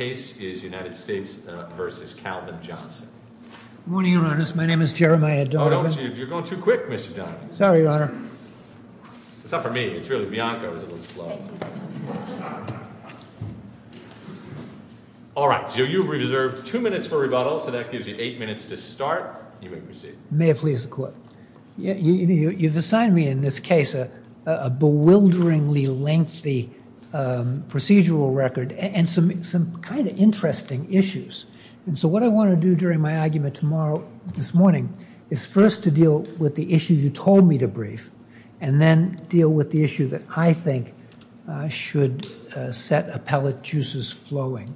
Good morning Your Honor, my name is Jeremiah Donovan You're going too quick, Mr. Donovan Sorry, Your Honor It's not for me, it's really Bianca, I was a little slow All right, so you've reserved two minutes for rebuttal, so that gives you eight minutes to start, and you may proceed May it please the Court You've assigned me in this case a bewilderingly lengthy procedural record and some kind of interesting issues And so what I want to do during my argument tomorrow, this morning, is first to deal with the issue you told me to brief And then deal with the issue that I think should set appellate juices flowing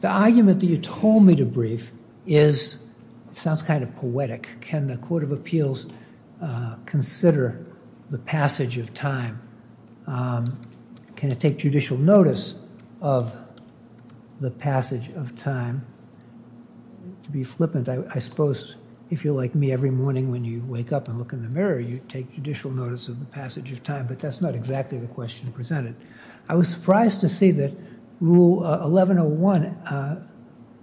The argument that you told me to brief sounds kind of poetic Can the Court of Appeals consider the passage of time? Can it take judicial notice of the passage of time? To be flippant, I suppose if you're like me, every morning when you wake up and look in the mirror, you take judicial notice of the passage of time But that's not exactly the question presented I was surprised to see that Rule 1101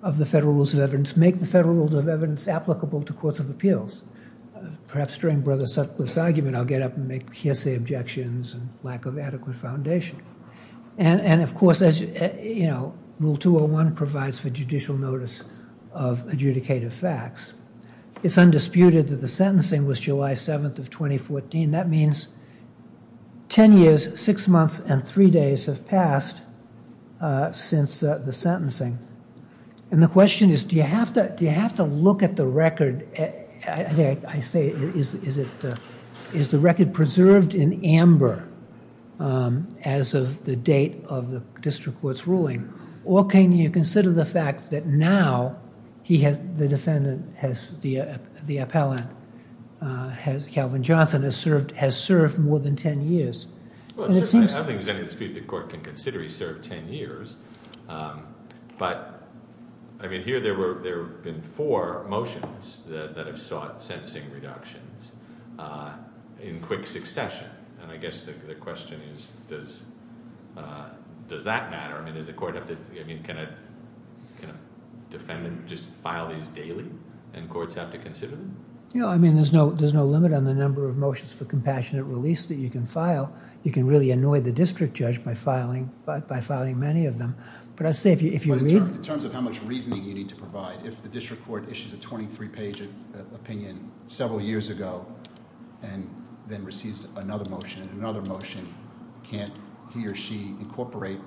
of the Federal Rules of Evidence make the Federal Rules of Evidence applicable to Courts of Appeals Perhaps during Brother Sutcliffe's argument, I'll get up and make hearsay objections and lack of adequate foundation And of course, as you know, Rule 201 provides for judicial notice of adjudicative facts It's undisputed that the sentencing was July 7th of 2014 That means ten years, six months, and three days have passed since the sentencing And the question is, do you have to look at the record? I say, is the record preserved in amber as of the date of the District Court's ruling? Or can you consider the fact that now the defendant, the appellant, Calvin Johnson, has served more than ten years? I don't think there's any dispute the Court can consider he served ten years But here there have been four motions that have sought sentencing reductions in quick succession And I guess the question is, does that matter? I mean, can a defendant just file these daily and courts have to consider them? I mean, there's no limit on the number of motions for compassionate release that you can file You can really annoy the District Judge by filing many of them But I say, if you read In terms of how much reasoning you need to provide, if the District Court issues a 23-page opinion several years ago And then receives another motion and another motion Can't he or she incorporate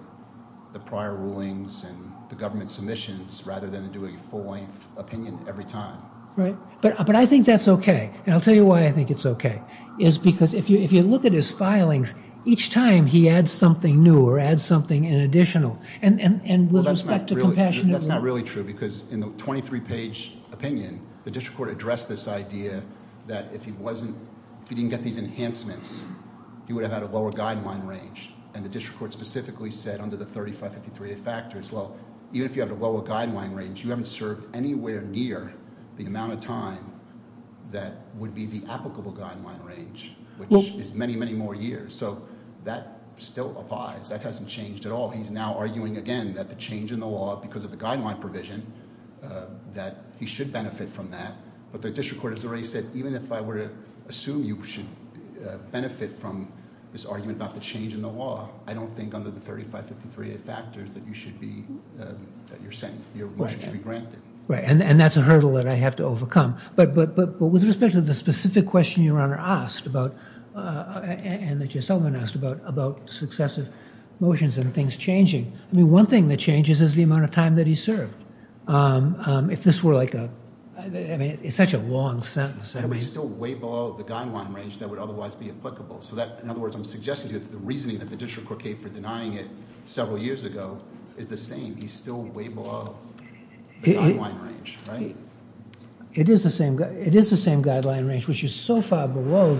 the prior rulings and the government submissions rather than do a full-length opinion every time? Right, but I think that's okay And I'll tell you why I think it's okay Is because if you look at his filings, each time he adds something new or adds something in additional And with respect to compassionate release That's not really true because in the 23-page opinion The District Court addressed this idea that if he didn't get these enhancements He would have had a lower guideline range And the District Court specifically said under the 3553A factors Well, even if you have a lower guideline range, you haven't served anywhere near the amount of time That would be the applicable guideline range Which is many, many more years So that still applies That hasn't changed at all He's now arguing again that the change in the law because of the guideline provision That he should benefit from that But the District Court has already said Even if I were to assume you should benefit from this argument about the change in the law I don't think under the 3553A factors that you should be That you're saying your motion should be granted Right, and that's a hurdle that I have to overcome But with respect to the specific question your Honor asked about And that Jess Sullivan asked about About successive motions and things changing I mean, one thing that changes is the amount of time that he served If this were like a I mean, it's such a long sentence And he's still way below the guideline range that would otherwise be applicable So that, in other words, I'm suggesting to you That the reasoning that the District Court gave for denying it Several years ago is the same He's still way below the guideline range, right? It is the same guideline range Which is so far below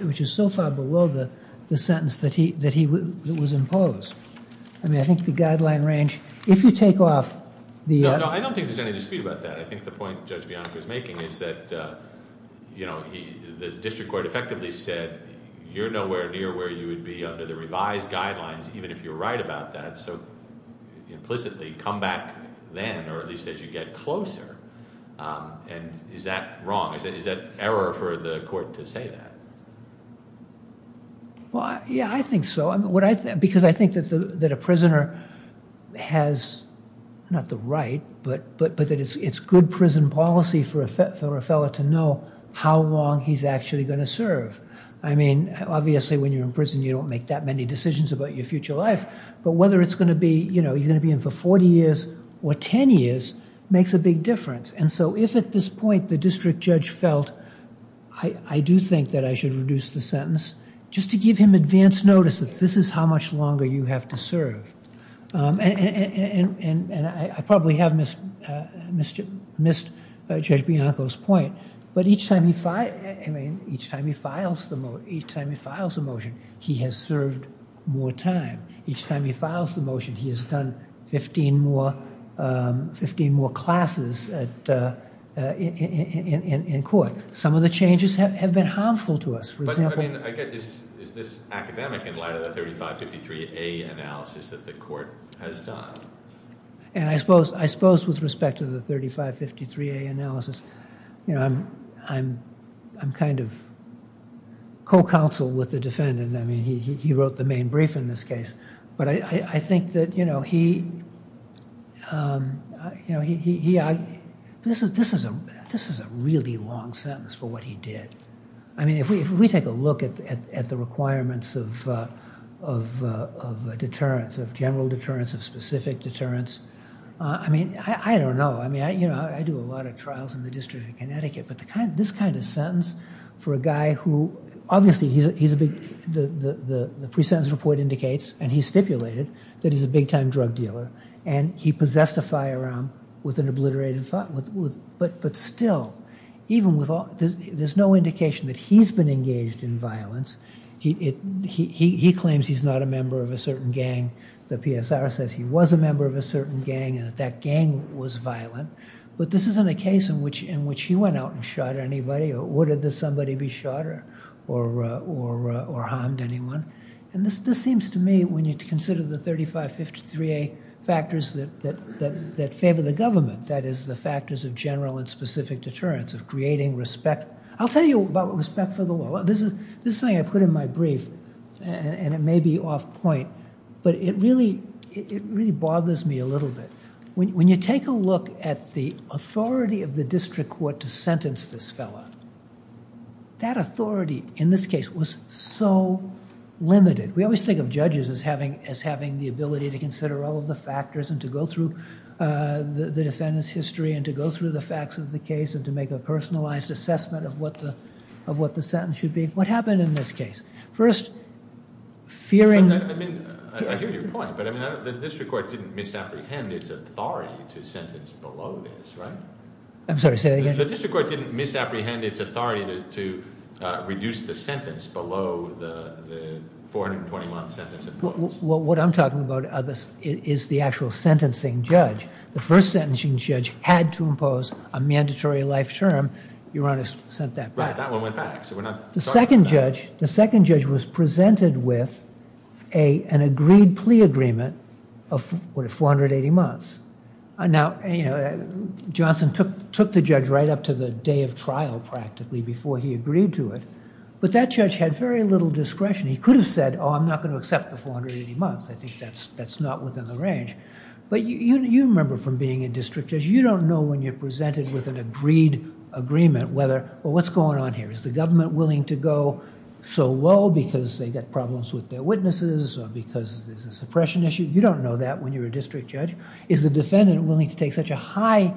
the sentence that was imposed I mean, I think the guideline range If you take off the No, I don't think there's any dispute about that I think the point Judge Bianco is making is that You know, the District Court effectively said You're nowhere near where you would be under the revised guidelines Even if you're right about that So, implicitly, come back then Or at least as you get closer And is that wrong? Is that error for the court to say that? Well, yeah, I think so Because I think that a prisoner has Not the right, but that it's good prison policy For a fellow to know how long he's actually going to serve I mean, obviously, when you're in prison You don't make that many decisions about your future life But whether it's going to be You know, you're going to be in for 40 years or 10 years Makes a big difference And so, if at this point the District Judge felt I do think that I should reduce the sentence Just to give him advance notice That this is how much longer you have to serve And I probably have missed Judge Bianco's point But each time he files the motion He has served more time Each time he files the motion He has done 15 more classes in court Some of the changes have been harmful to us But, I mean, is this academic In light of the 3553A analysis that the court has done? And I suppose with respect to the 3553A analysis You know, I'm kind of co-counsel with the defendant I mean, he wrote the main brief in this case But I think that, you know, he This is a really long sentence for what he did I mean, if we take a look at the requirements Of deterrence, of general deterrence Of specific deterrence I mean, I don't know I mean, you know, I do a lot of trials In the District of Connecticut But this kind of sentence for a guy who Obviously, he's a big The pre-sentence report indicates And he stipulated that he's a big-time drug dealer And he possessed a firearm with an obliterated But still, even with all There's no indication that he's been engaged in violence He claims he's not a member of a certain gang The PSR says he was a member of a certain gang And that gang was violent But this isn't a case in which He went out and shot anybody Or did somebody be shot or harmed anyone? And this seems to me When you consider the 3553A factors That favor the government That is the factors of general and specific deterrence Of creating respect I'll tell you about respect for the law This is something I put in my brief And it may be off point But it really bothers me a little bit When you take a look at the authority Of the District Court to sentence this fellow That authority in this case was so limited We always think of judges as having The ability to consider all of the factors And to go through the defendant's history And to go through the facts of the case And to make a personalized assessment Of what the sentence should be What happened in this case? First, fearing... I mean, I hear your point But the District Court didn't misapprehend Its authority to sentence below this, right? I'm sorry, say that again The District Court didn't misapprehend Its authority to reduce the sentence Below the 421 sentence imposed What I'm talking about Is the actual sentencing judge The first sentencing judge had to impose A mandatory life term Your Honor sent that back The second judge The second judge was presented with An agreed plea agreement Of 480 months Now, Johnson took the judge Right up to the day of trial, practically Before he agreed to it But that judge had very little discretion He could have said Oh, I'm not going to accept the 480 months I think that's not within the range But you remember from being a district judge You don't know when you're presented With an agreed agreement What's going on here? Is the government willing to go so low Because they've got problems with their witnesses Or because there's a suppression issue You don't know that when you're a district judge Is the defendant willing to take such a high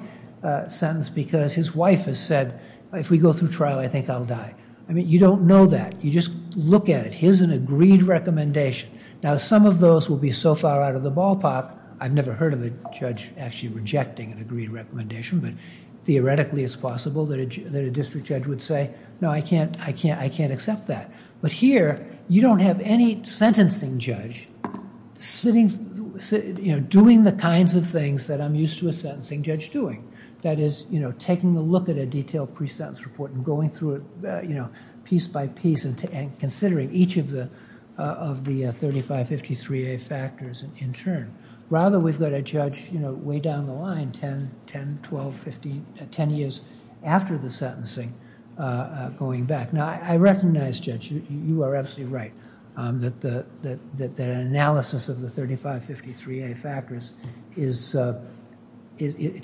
sentence Because his wife has said If we go through trial, I think I'll die I mean, you don't know that You just look at it It is an agreed recommendation Now, some of those will be so far out of the ballpark I've never heard of a judge actually rejecting An agreed recommendation But theoretically, it's possible That a district judge would say No, I can't accept that But here, you don't have any sentencing judge Doing the kinds of things That I'm used to a sentencing judge doing That is, taking a look at a detailed pre-sentence report And going through it piece by piece And considering each of the 3553A factors in turn Rather, we've got a judge way down the line 10, 12, 15, 10 years after the sentencing Going back Now, I recognize, Judge, you are absolutely right That an analysis of the 3553A factors It's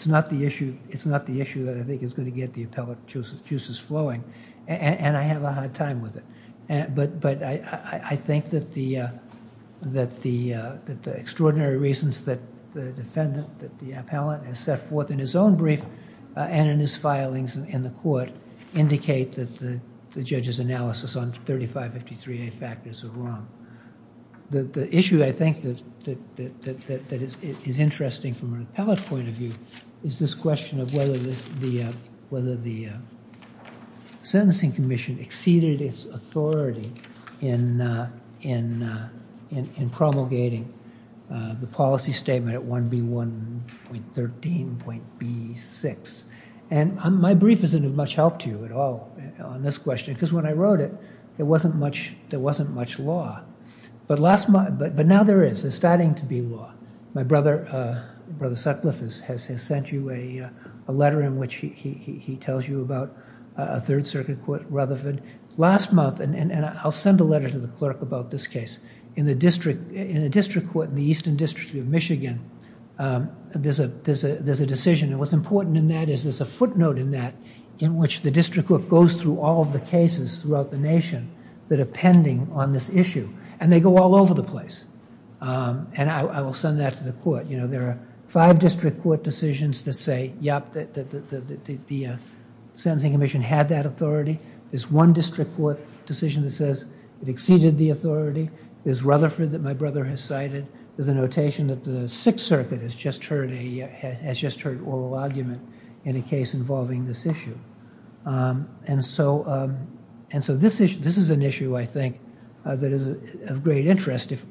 not the issue that I think is going to get The appellate juices flowing And I have a hard time with it But I think that the extraordinary reasons That the defendant, the appellate Has set forth in his own brief And in his filings in the court Indicate that the judge's analysis On 3553A factors are wrong The issue, I think, that is interesting From an appellate point of view Is this question of whether The sentencing commission exceeded its authority In promulgating the policy statement At 1B1.13.B6 And my brief isn't of much help to you at all On this question Because when I wrote it, there wasn't much law But now there is There's starting to be law My brother, Brother Sutcliffe Has sent you a letter In which he tells you about A Third Circuit Court, Rutherford Last month, and I'll send a letter to the clerk About this case In the District Court In the Eastern District of Michigan There's a decision And what's important in that Is there's a footnote in that In which the District Court goes through All of the cases throughout the nation That are pending on this issue And they go all over the place And I will send that to the court There are five District Court decisions That say, yup, the sentencing commission Had that authority There's one District Court decision that says It exceeded the authority There's Rutherford that my brother has cited There's a notation that the Sixth Circuit Has just heard oral argument In a case involving this issue And so this is an issue, I think That is of great interest If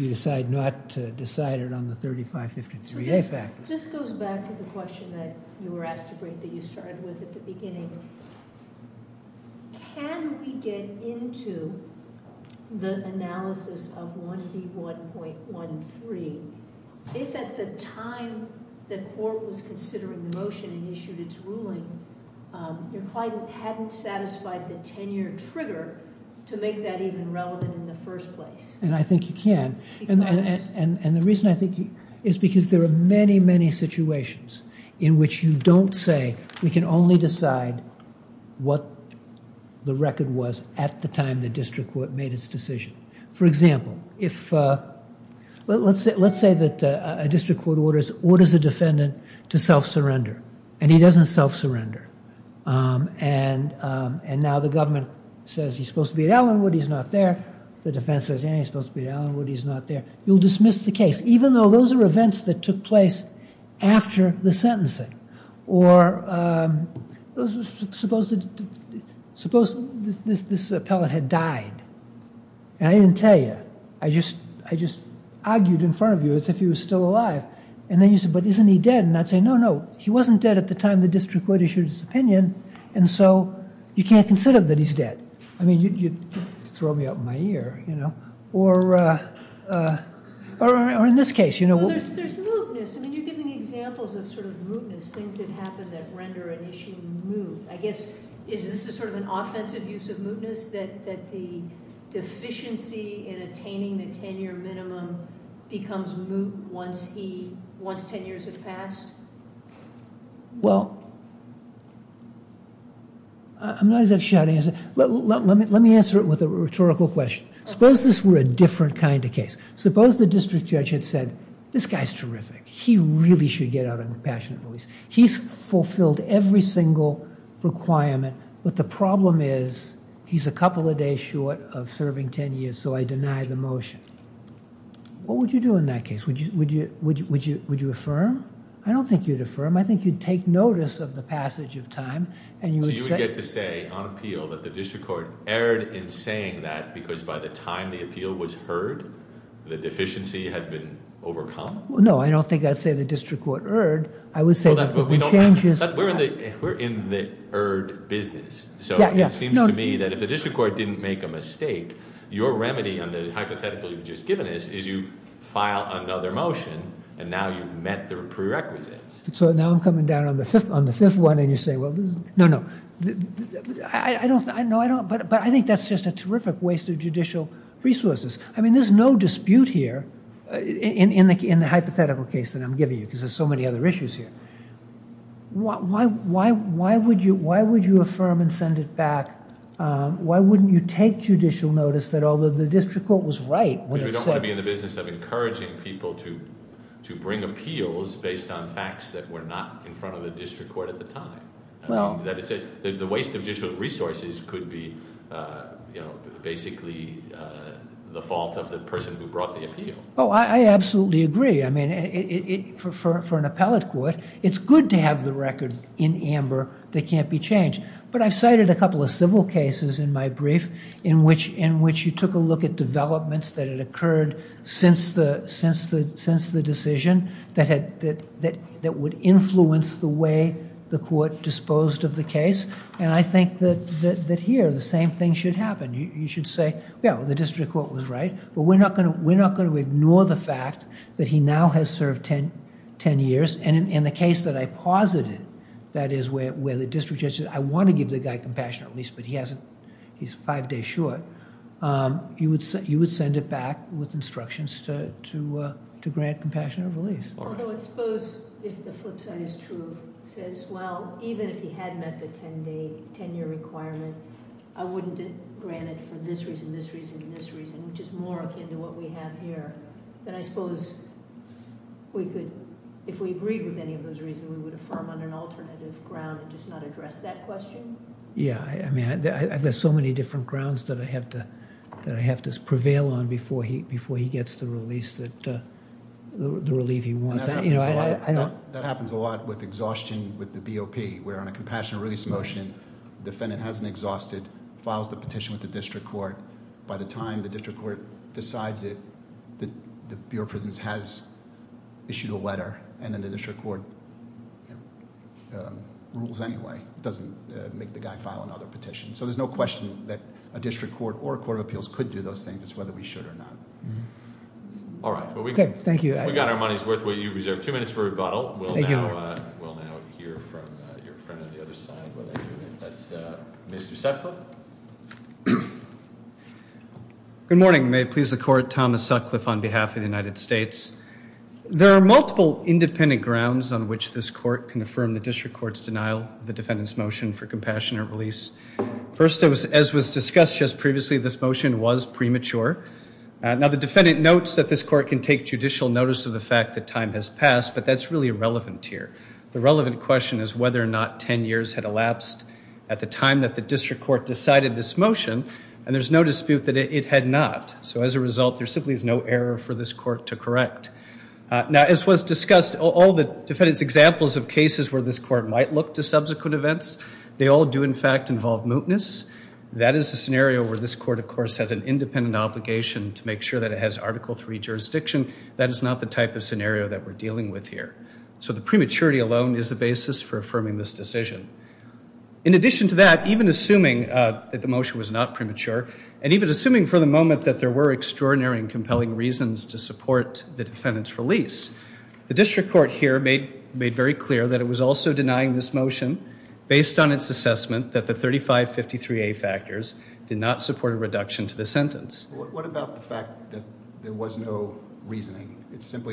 you decide not to decide it On the 3553A factors This goes back to the question That you were asked to break That you started with at the beginning Can we get into The analysis of 1B1.13 If at the time The court was considering the motion And issued its ruling Your client hadn't satisfied The tenure trigger To make that even relevant in the first place And I think you can And the reason I think Is because there are many, many situations In which you don't say We can only decide What the record was At the time the District Court made its decision For example, if Let's say that a District Court orders Orders a defendant to self-surrender And he doesn't self-surrender And now the government Says he's supposed to be at Allynwood He's not there The defense says He's supposed to be at Allynwood He's not there You'll dismiss the case Even though those are events that took place After the sentencing Or Suppose Suppose this appellate had died And I didn't tell you I just Argued in front of you As if he was still alive And then you say But isn't he dead And I'd say no, no He wasn't dead at the time The District Court issued its opinion And so You can't consider that he's dead I mean you'd Throw me up in my ear You know Or Or in this case You know There's mootness I mean you're giving examples Of sort of mootness Things that happen That render an issue moot I guess Is this a sort of An offensive use of mootness That the Deficiency in attaining The 10-year minimum Becomes moot once he Once 10 years have passed Well I'm not exactly sure how to answer Let me answer it with a rhetorical question Suppose this were a different kind of case Suppose the District Judge had said This guy's terrific He really should get out On compassionate release He's fulfilled every single requirement But the problem is He's a couple of days short Of serving 10 years So I deny the motion What would you do in that case? Would you affirm? I don't think you'd affirm I think you'd take notice Of the passage of time And you would say So you would get to say On appeal That the District Court Erred in saying that Because by the time The appeal was heard The deficiency had been overcome? No I don't think I'd say The District Court erred I would say that the changes We're in the erred business So it seems to me That if the District Court Didn't make a mistake Your remedy On the hypothetical You've just given us Is you file another motion And now you've met The prerequisites So now I'm coming down On the fifth one And you say No, no I don't No, I don't But I think that's just A terrific waste Of judicial resources I mean there's no dispute here In the hypothetical case That I'm giving you Because there's so many Other issues here Why would you affirm And send it back Why wouldn't you take Judicial notice That although the District Court Was right We don't want to be In the business Of encouraging people To bring appeals Based on facts That were not in front Of the District Court At the time Well The waste of judicial resources Could be You know Basically The fault of the person Who brought the appeal Oh I absolutely agree I mean For an appellate court It's good to have the record In amber That can't be changed But I've cited a couple Of civil cases In my brief In which In which you took a look At developments That had occurred Since the Since the Decision That had That would influence The way The court Disposed of the case And I think That here The same thing Should happen You should say Yeah The District Court Was right But we're not Going to ignore The fact That he now Has served Ten years And in the case That I posited That is where The District Judge Said I want to Give the guy Compassion At least But he hasn't He's five days short You would send You would send it back With instructions To grant Compassionate release Although I suppose If the flip side Is true Says well Even if he had met The ten day Ten year requirement I wouldn't grant it For this reason This reason And this reason Which is more akin To what we have here Then I suppose We could If we agreed With any of those reasons We would affirm On an alternative ground And just not address That question Yeah I mean There's so many Different grounds That I have to Prevail on Before he gets The release That The relief He wants That happens a lot With exhaustion With the BOP Where on a Compassionate release Motion The defendant Hasn't exhausted Files the petition With the District Court By the time The District Court Decides that The Bureau of Prisons Has issued a letter And then the District Court Rules anyway Doesn't make The guy file Another petition So there's no question That a District Court Or a Court of Appeals Could do those things As whether we should Or not All right Okay, thank you We got our money's worth What you reserved Two minutes for rebuttal Thank you We'll now Hear from Your friend On the other side Whether that's Mr. Sutcliffe Good morning May it please the Court Thomas Sutcliffe On behalf of The United States There are multiple Independent grounds On which this Court Can affirm The District Court's Denial of the Defendant's Motion for Compassionate Release First as was Discussed just Previously This motion Was premature Now the Defendant Notes that This Court Can take Judicial Notice of the Fact that Time has Passed But that's Really irrelevant Here The relevant Question is Whether or not Ten years Had elapsed At the time That the District Court Decided This motion And there's No dispute That it Had not So as a There simply Is no error For this Court To correct Now as was Discussed All the Defendant's Examples of Cases where This Court Might look To subsequent Events They all do In fact involve Mootness That is The scenario Where this Court Of course Has an Independent Obligation To make Sure that It has Article 3 Jurisdiction That is Not the Type of That we're Dealing with Here So the Prematurity Alone Is the Basis for Affirming This Decision In addition To that There Was no Reasoning For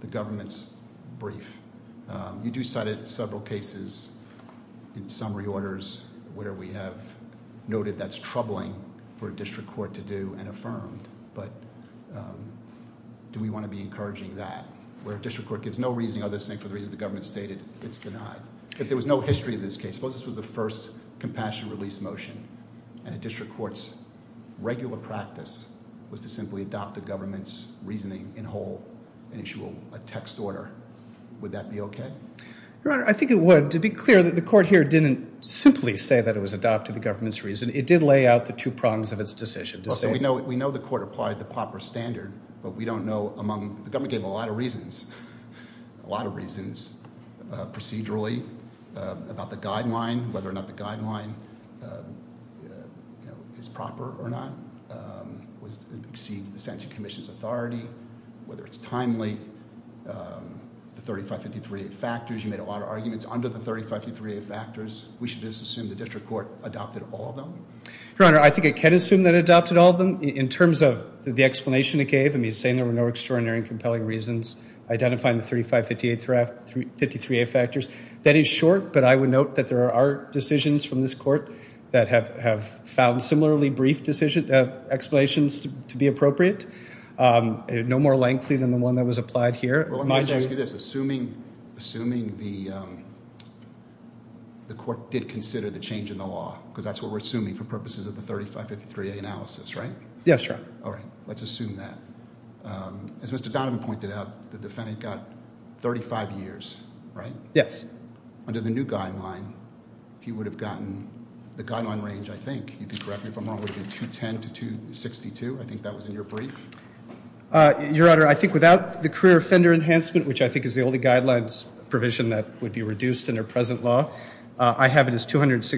The Government's Brief You do Cited several Cases In summary Orders Where we Have Noted That's For a Court To do And Affirm But Do we Know Was Not Not Adopt The Government's Reasoning In Whole And Issue A Text Order Would That Be Okay To Be Clear Is Proper Or Not Exceeds The Commission's Authority Whether It's Timely The Factors You Made A Lot Of Arguments Under The Factors We Should Assume The District Court Adopted All Of Them In Terms Of The Explanation It Identifying The 3558 Factors That Is Short But I Would There Are Decisions From This Court That Have To Be The 3558 Analysis Right Let's Assume That As Mr. Donovan Pointed Out The Defendant Got 35 Years Right Yes Under The New Guideline He Would Have Gotten The Guideline Range I That Was In Your Brief Your Honor I Think Without The Career Offender Enhancement I Have It As 262 To 23 Page Adopted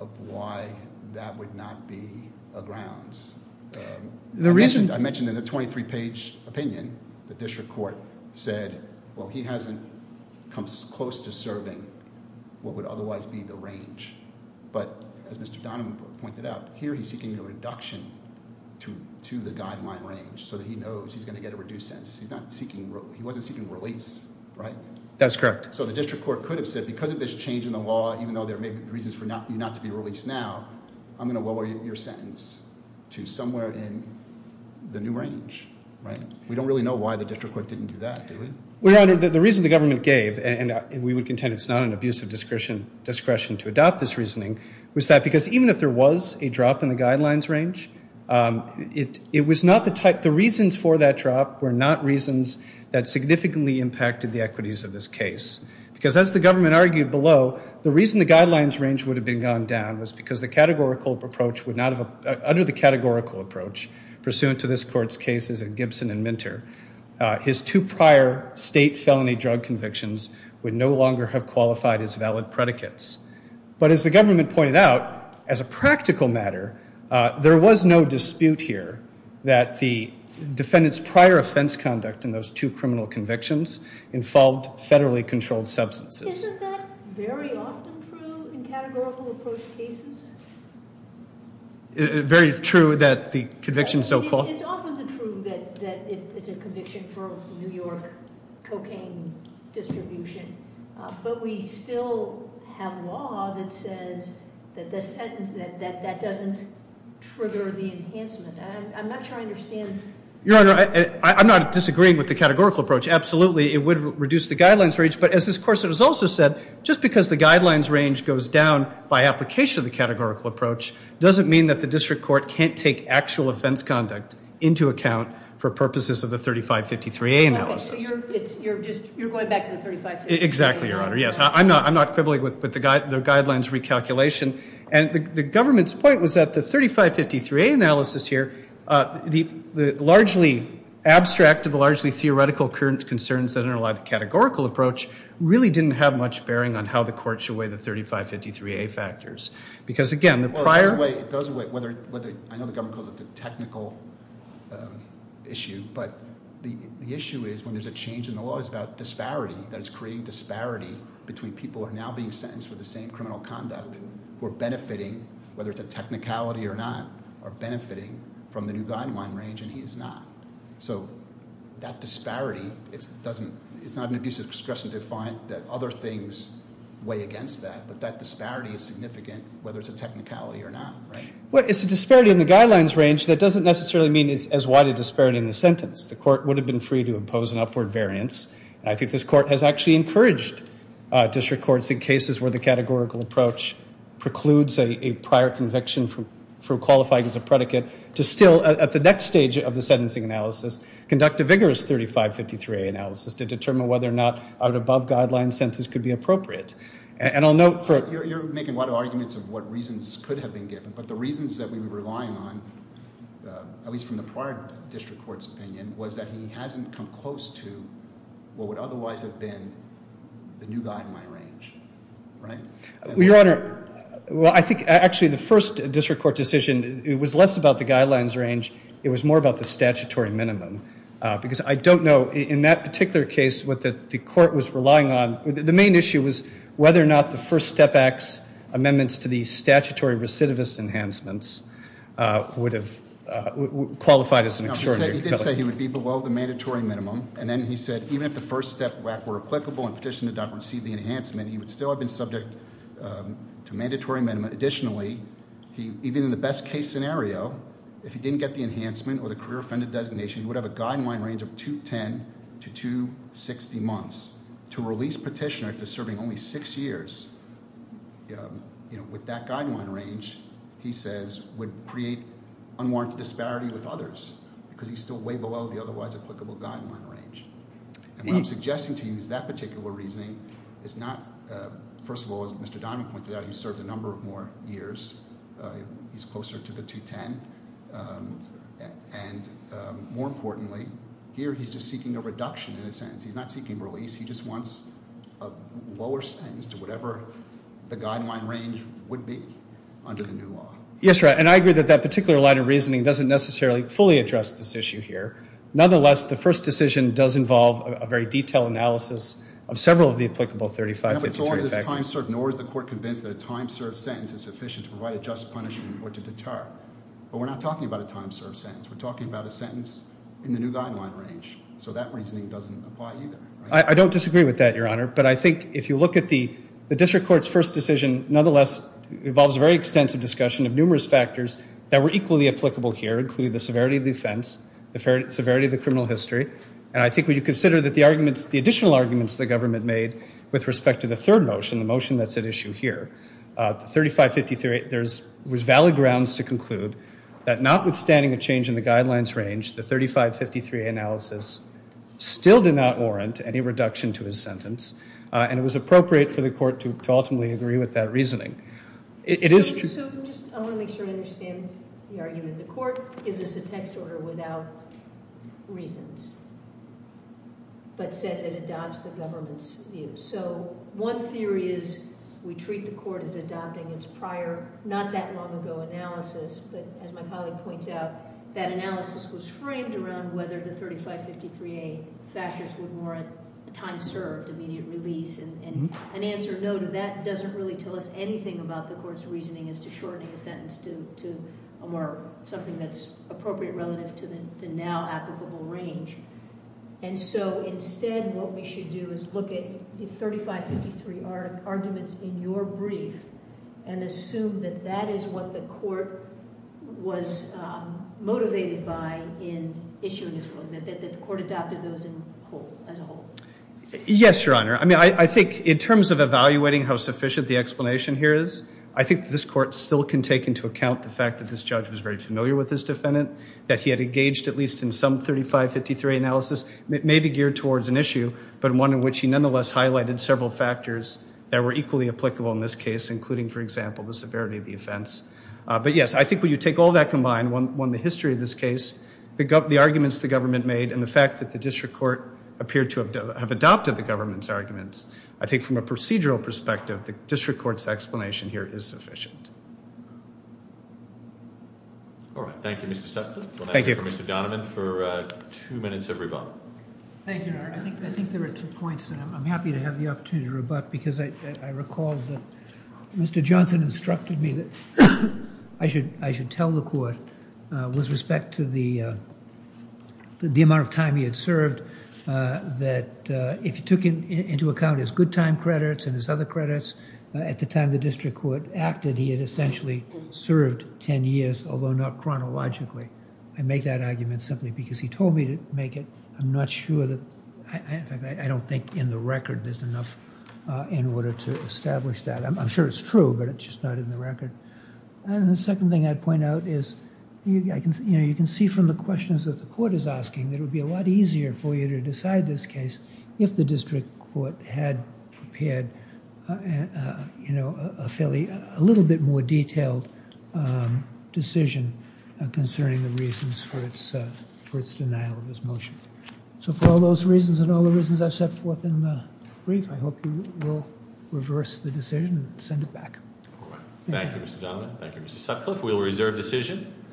Of Why That Would Not Be A Grounds The Reason I Mentioned In The 23 Page Opinion The Court Adopted The Reason I To 23 Page Adopted Why That Be A prior state felony drug convictions would no longer have qualified as valid predicates. But as the government pointed out, as a practical matter, there was no dispute here that the defendant's prior offense conduct in those two criminal convictions involved federally controlled substances. Isn't that very often true in categorical approach cases? Very true that the convictions don't call. It's often true that it's a conviction for New York cocaine distribution. But we still have law that says that the sentence that doesn't trigger the enhancement. I'm not sure I understand. Your Honor, I'm not disagreeing with the categorical approach. Absolutely, it would reduce the guidelines range. But as this course has also said, just because the guidelines range goes down by application of the categorical approach doesn't mean that the district court can't take actual offense conduct into account for purposes of the 3553A analysis. OK, so you're going back to the 3553A. Exactly, Your Honor, yes. I'm not quibbling with the guidelines recalculation. And the government's point was that the 3553A analysis here, the largely abstract of the largely theoretical current concerns that are in a lot of categorical approach really didn't have much bearing on how the court should weigh the 3553A factors. Because again, the prior. Well, it does weigh whether, I know the government calls it the technical issue. But the issue is when there's a change in the law, it's about disparity. That it's creating disparity between people who are now being sentenced for the same criminal conduct, who are benefiting, whether it's a technicality or not, are benefiting from the new guideline range, and he is not. So that disparity, it's not an abuse of discretion defiant that other things weigh against that. But that disparity is significant, whether it's a technicality or not, right? Well, it's a disparity in the guidelines range that doesn't necessarily mean it's as wide a disparity in the sentence. The court would have been free to impose an upward variance. I think this court has actually encouraged district courts in cases where the categorical approach precludes a prior conviction for qualifying as a predicate to still, at the next stage of the sentencing analysis, conduct a vigorous 3553A analysis to determine whether or not an above guideline sentence could be appropriate. And I'll note for it. You're making a lot of arguments of what reasons could have been given. But the reasons that we were relying on, at least from the prior district court's opinion, was that he hasn't come close to what would otherwise have been the new guideline range, right? Your Honor, well, I think actually the first district court decision, it was less about the guidelines range. It was more about the statutory minimum. Because I don't know, in that particular case, what that the court was relying on, the main issue was whether or not the First Step Act's amendments to the statutory recidivist enhancements would have qualified as an extraordinary penalty. No, he did say he would be below the mandatory minimum. And then he said, even if the First Step Act were applicable and petitioner did not receive the enhancement, he would still have been subject to mandatory minimum. Additionally, even in the best case scenario, if he didn't get the enhancement or the career offended designation, he would have a guideline range of 210 to 260 months. To release petitioner after serving only six years with that guideline range, he says, would create unwarranted disparity with others because he's still way below the otherwise applicable guideline range. And what I'm suggesting to use that particular reasoning is not, first of all, as Mr. Donovan pointed out, he's served a number of more years. He's closer to the 210. And more importantly, here he's just seeking a reduction in a sense. He's not seeking release. He just wants a lower sentence to whatever the guideline range would be under the new law. Yes, right. And I agree that that particular line of reasoning doesn't necessarily fully address this issue here. Nonetheless, the first decision does involve a very detailed analysis of several of the applicable 35, 52, and 35. Nor is the court convinced that a time-served sentence is sufficient to provide a just punishment or to deter. But we're not talking about a time-served sentence. We're talking about a sentence in the new guideline range. So that reasoning doesn't apply either. I don't disagree with that, Your Honor. But I think if you look at the district court's first decision, nonetheless, it involves a very extensive discussion of numerous factors that were equally applicable here, including the severity of the offense, the severity of the criminal history. And I think when you consider the additional arguments the government made with respect to the third motion, the motion that's at issue here, the 35, 53, there's valid grounds to conclude that notwithstanding a change in the guidelines range, the 35, 53 analysis still did not warrant any reduction to his sentence. And it was appropriate for the court to ultimately agree with that reasoning. It is true. So I want to make sure I understand the argument. The court gives us a text order without reasons, but says it adopts the government's view. So one theory is we treat the court as adopting its prior, not that long ago, analysis. But as my colleague points out, that analysis was framed around whether the 35, 53a factors would warrant time served, immediate release. And an answer noted, that doesn't really tell us anything about the court's reasoning as to shortening a sentence to something that's appropriate relative to the now applicable range. And so instead, what we should do is look at the 35, 53 arguments in your brief and assume that that is what the court was motivated by in issuing this ruling, that the court adopted those as a whole. Yes, Your Honor. I mean, I think in terms of evaluating how sufficient the explanation here is, I think this court still can take into account the fact that this judge was very familiar with this defendant, that he had engaged at least in some 35, 53 analysis, maybe geared towards an issue, but one in which he nonetheless highlighted several factors that were equally applicable in this case, including, for example, the severity of the offense. But yes, I think when you take all that combined, one, the history of this case, the arguments the government made, and the fact that the district court appeared to have adopted the government's arguments, I think from a procedural perspective, the district court's explanation here is sufficient. All right. Thank you, Mr. Sutcliffe. Thank you. We'll now hear from Mr. Donovan for two minutes of rebuttal. Thank you, Your Honor. I think there are two points, and I'm happy to have the opportunity to rebut, because I recall that Mr. Johnson instructed me that I should tell the court with respect to the amount of time he had served, that if you took into account his good time credits and his other credits, at the time the district court acted, he had essentially served 10 years, although not chronologically. I make that argument simply because he told me to make it. I'm not sure that, in fact, I don't think in the record there's enough in order to establish that. I'm sure it's true, but it's just not in the record. And the second thing I'd point out is you can see from the questions that the court is asking, it would be a lot easier for you to decide this case if the district court had prepared a little bit more detailed decision concerning the reasons for its denial of this motion. So for all those reasons and all the reasons I've set forth in the brief, I hope you will reverse the decision and send it back. Thank you, Mr. Donovan. Thank you, Mr. Sutcliffe. We'll reserve decision.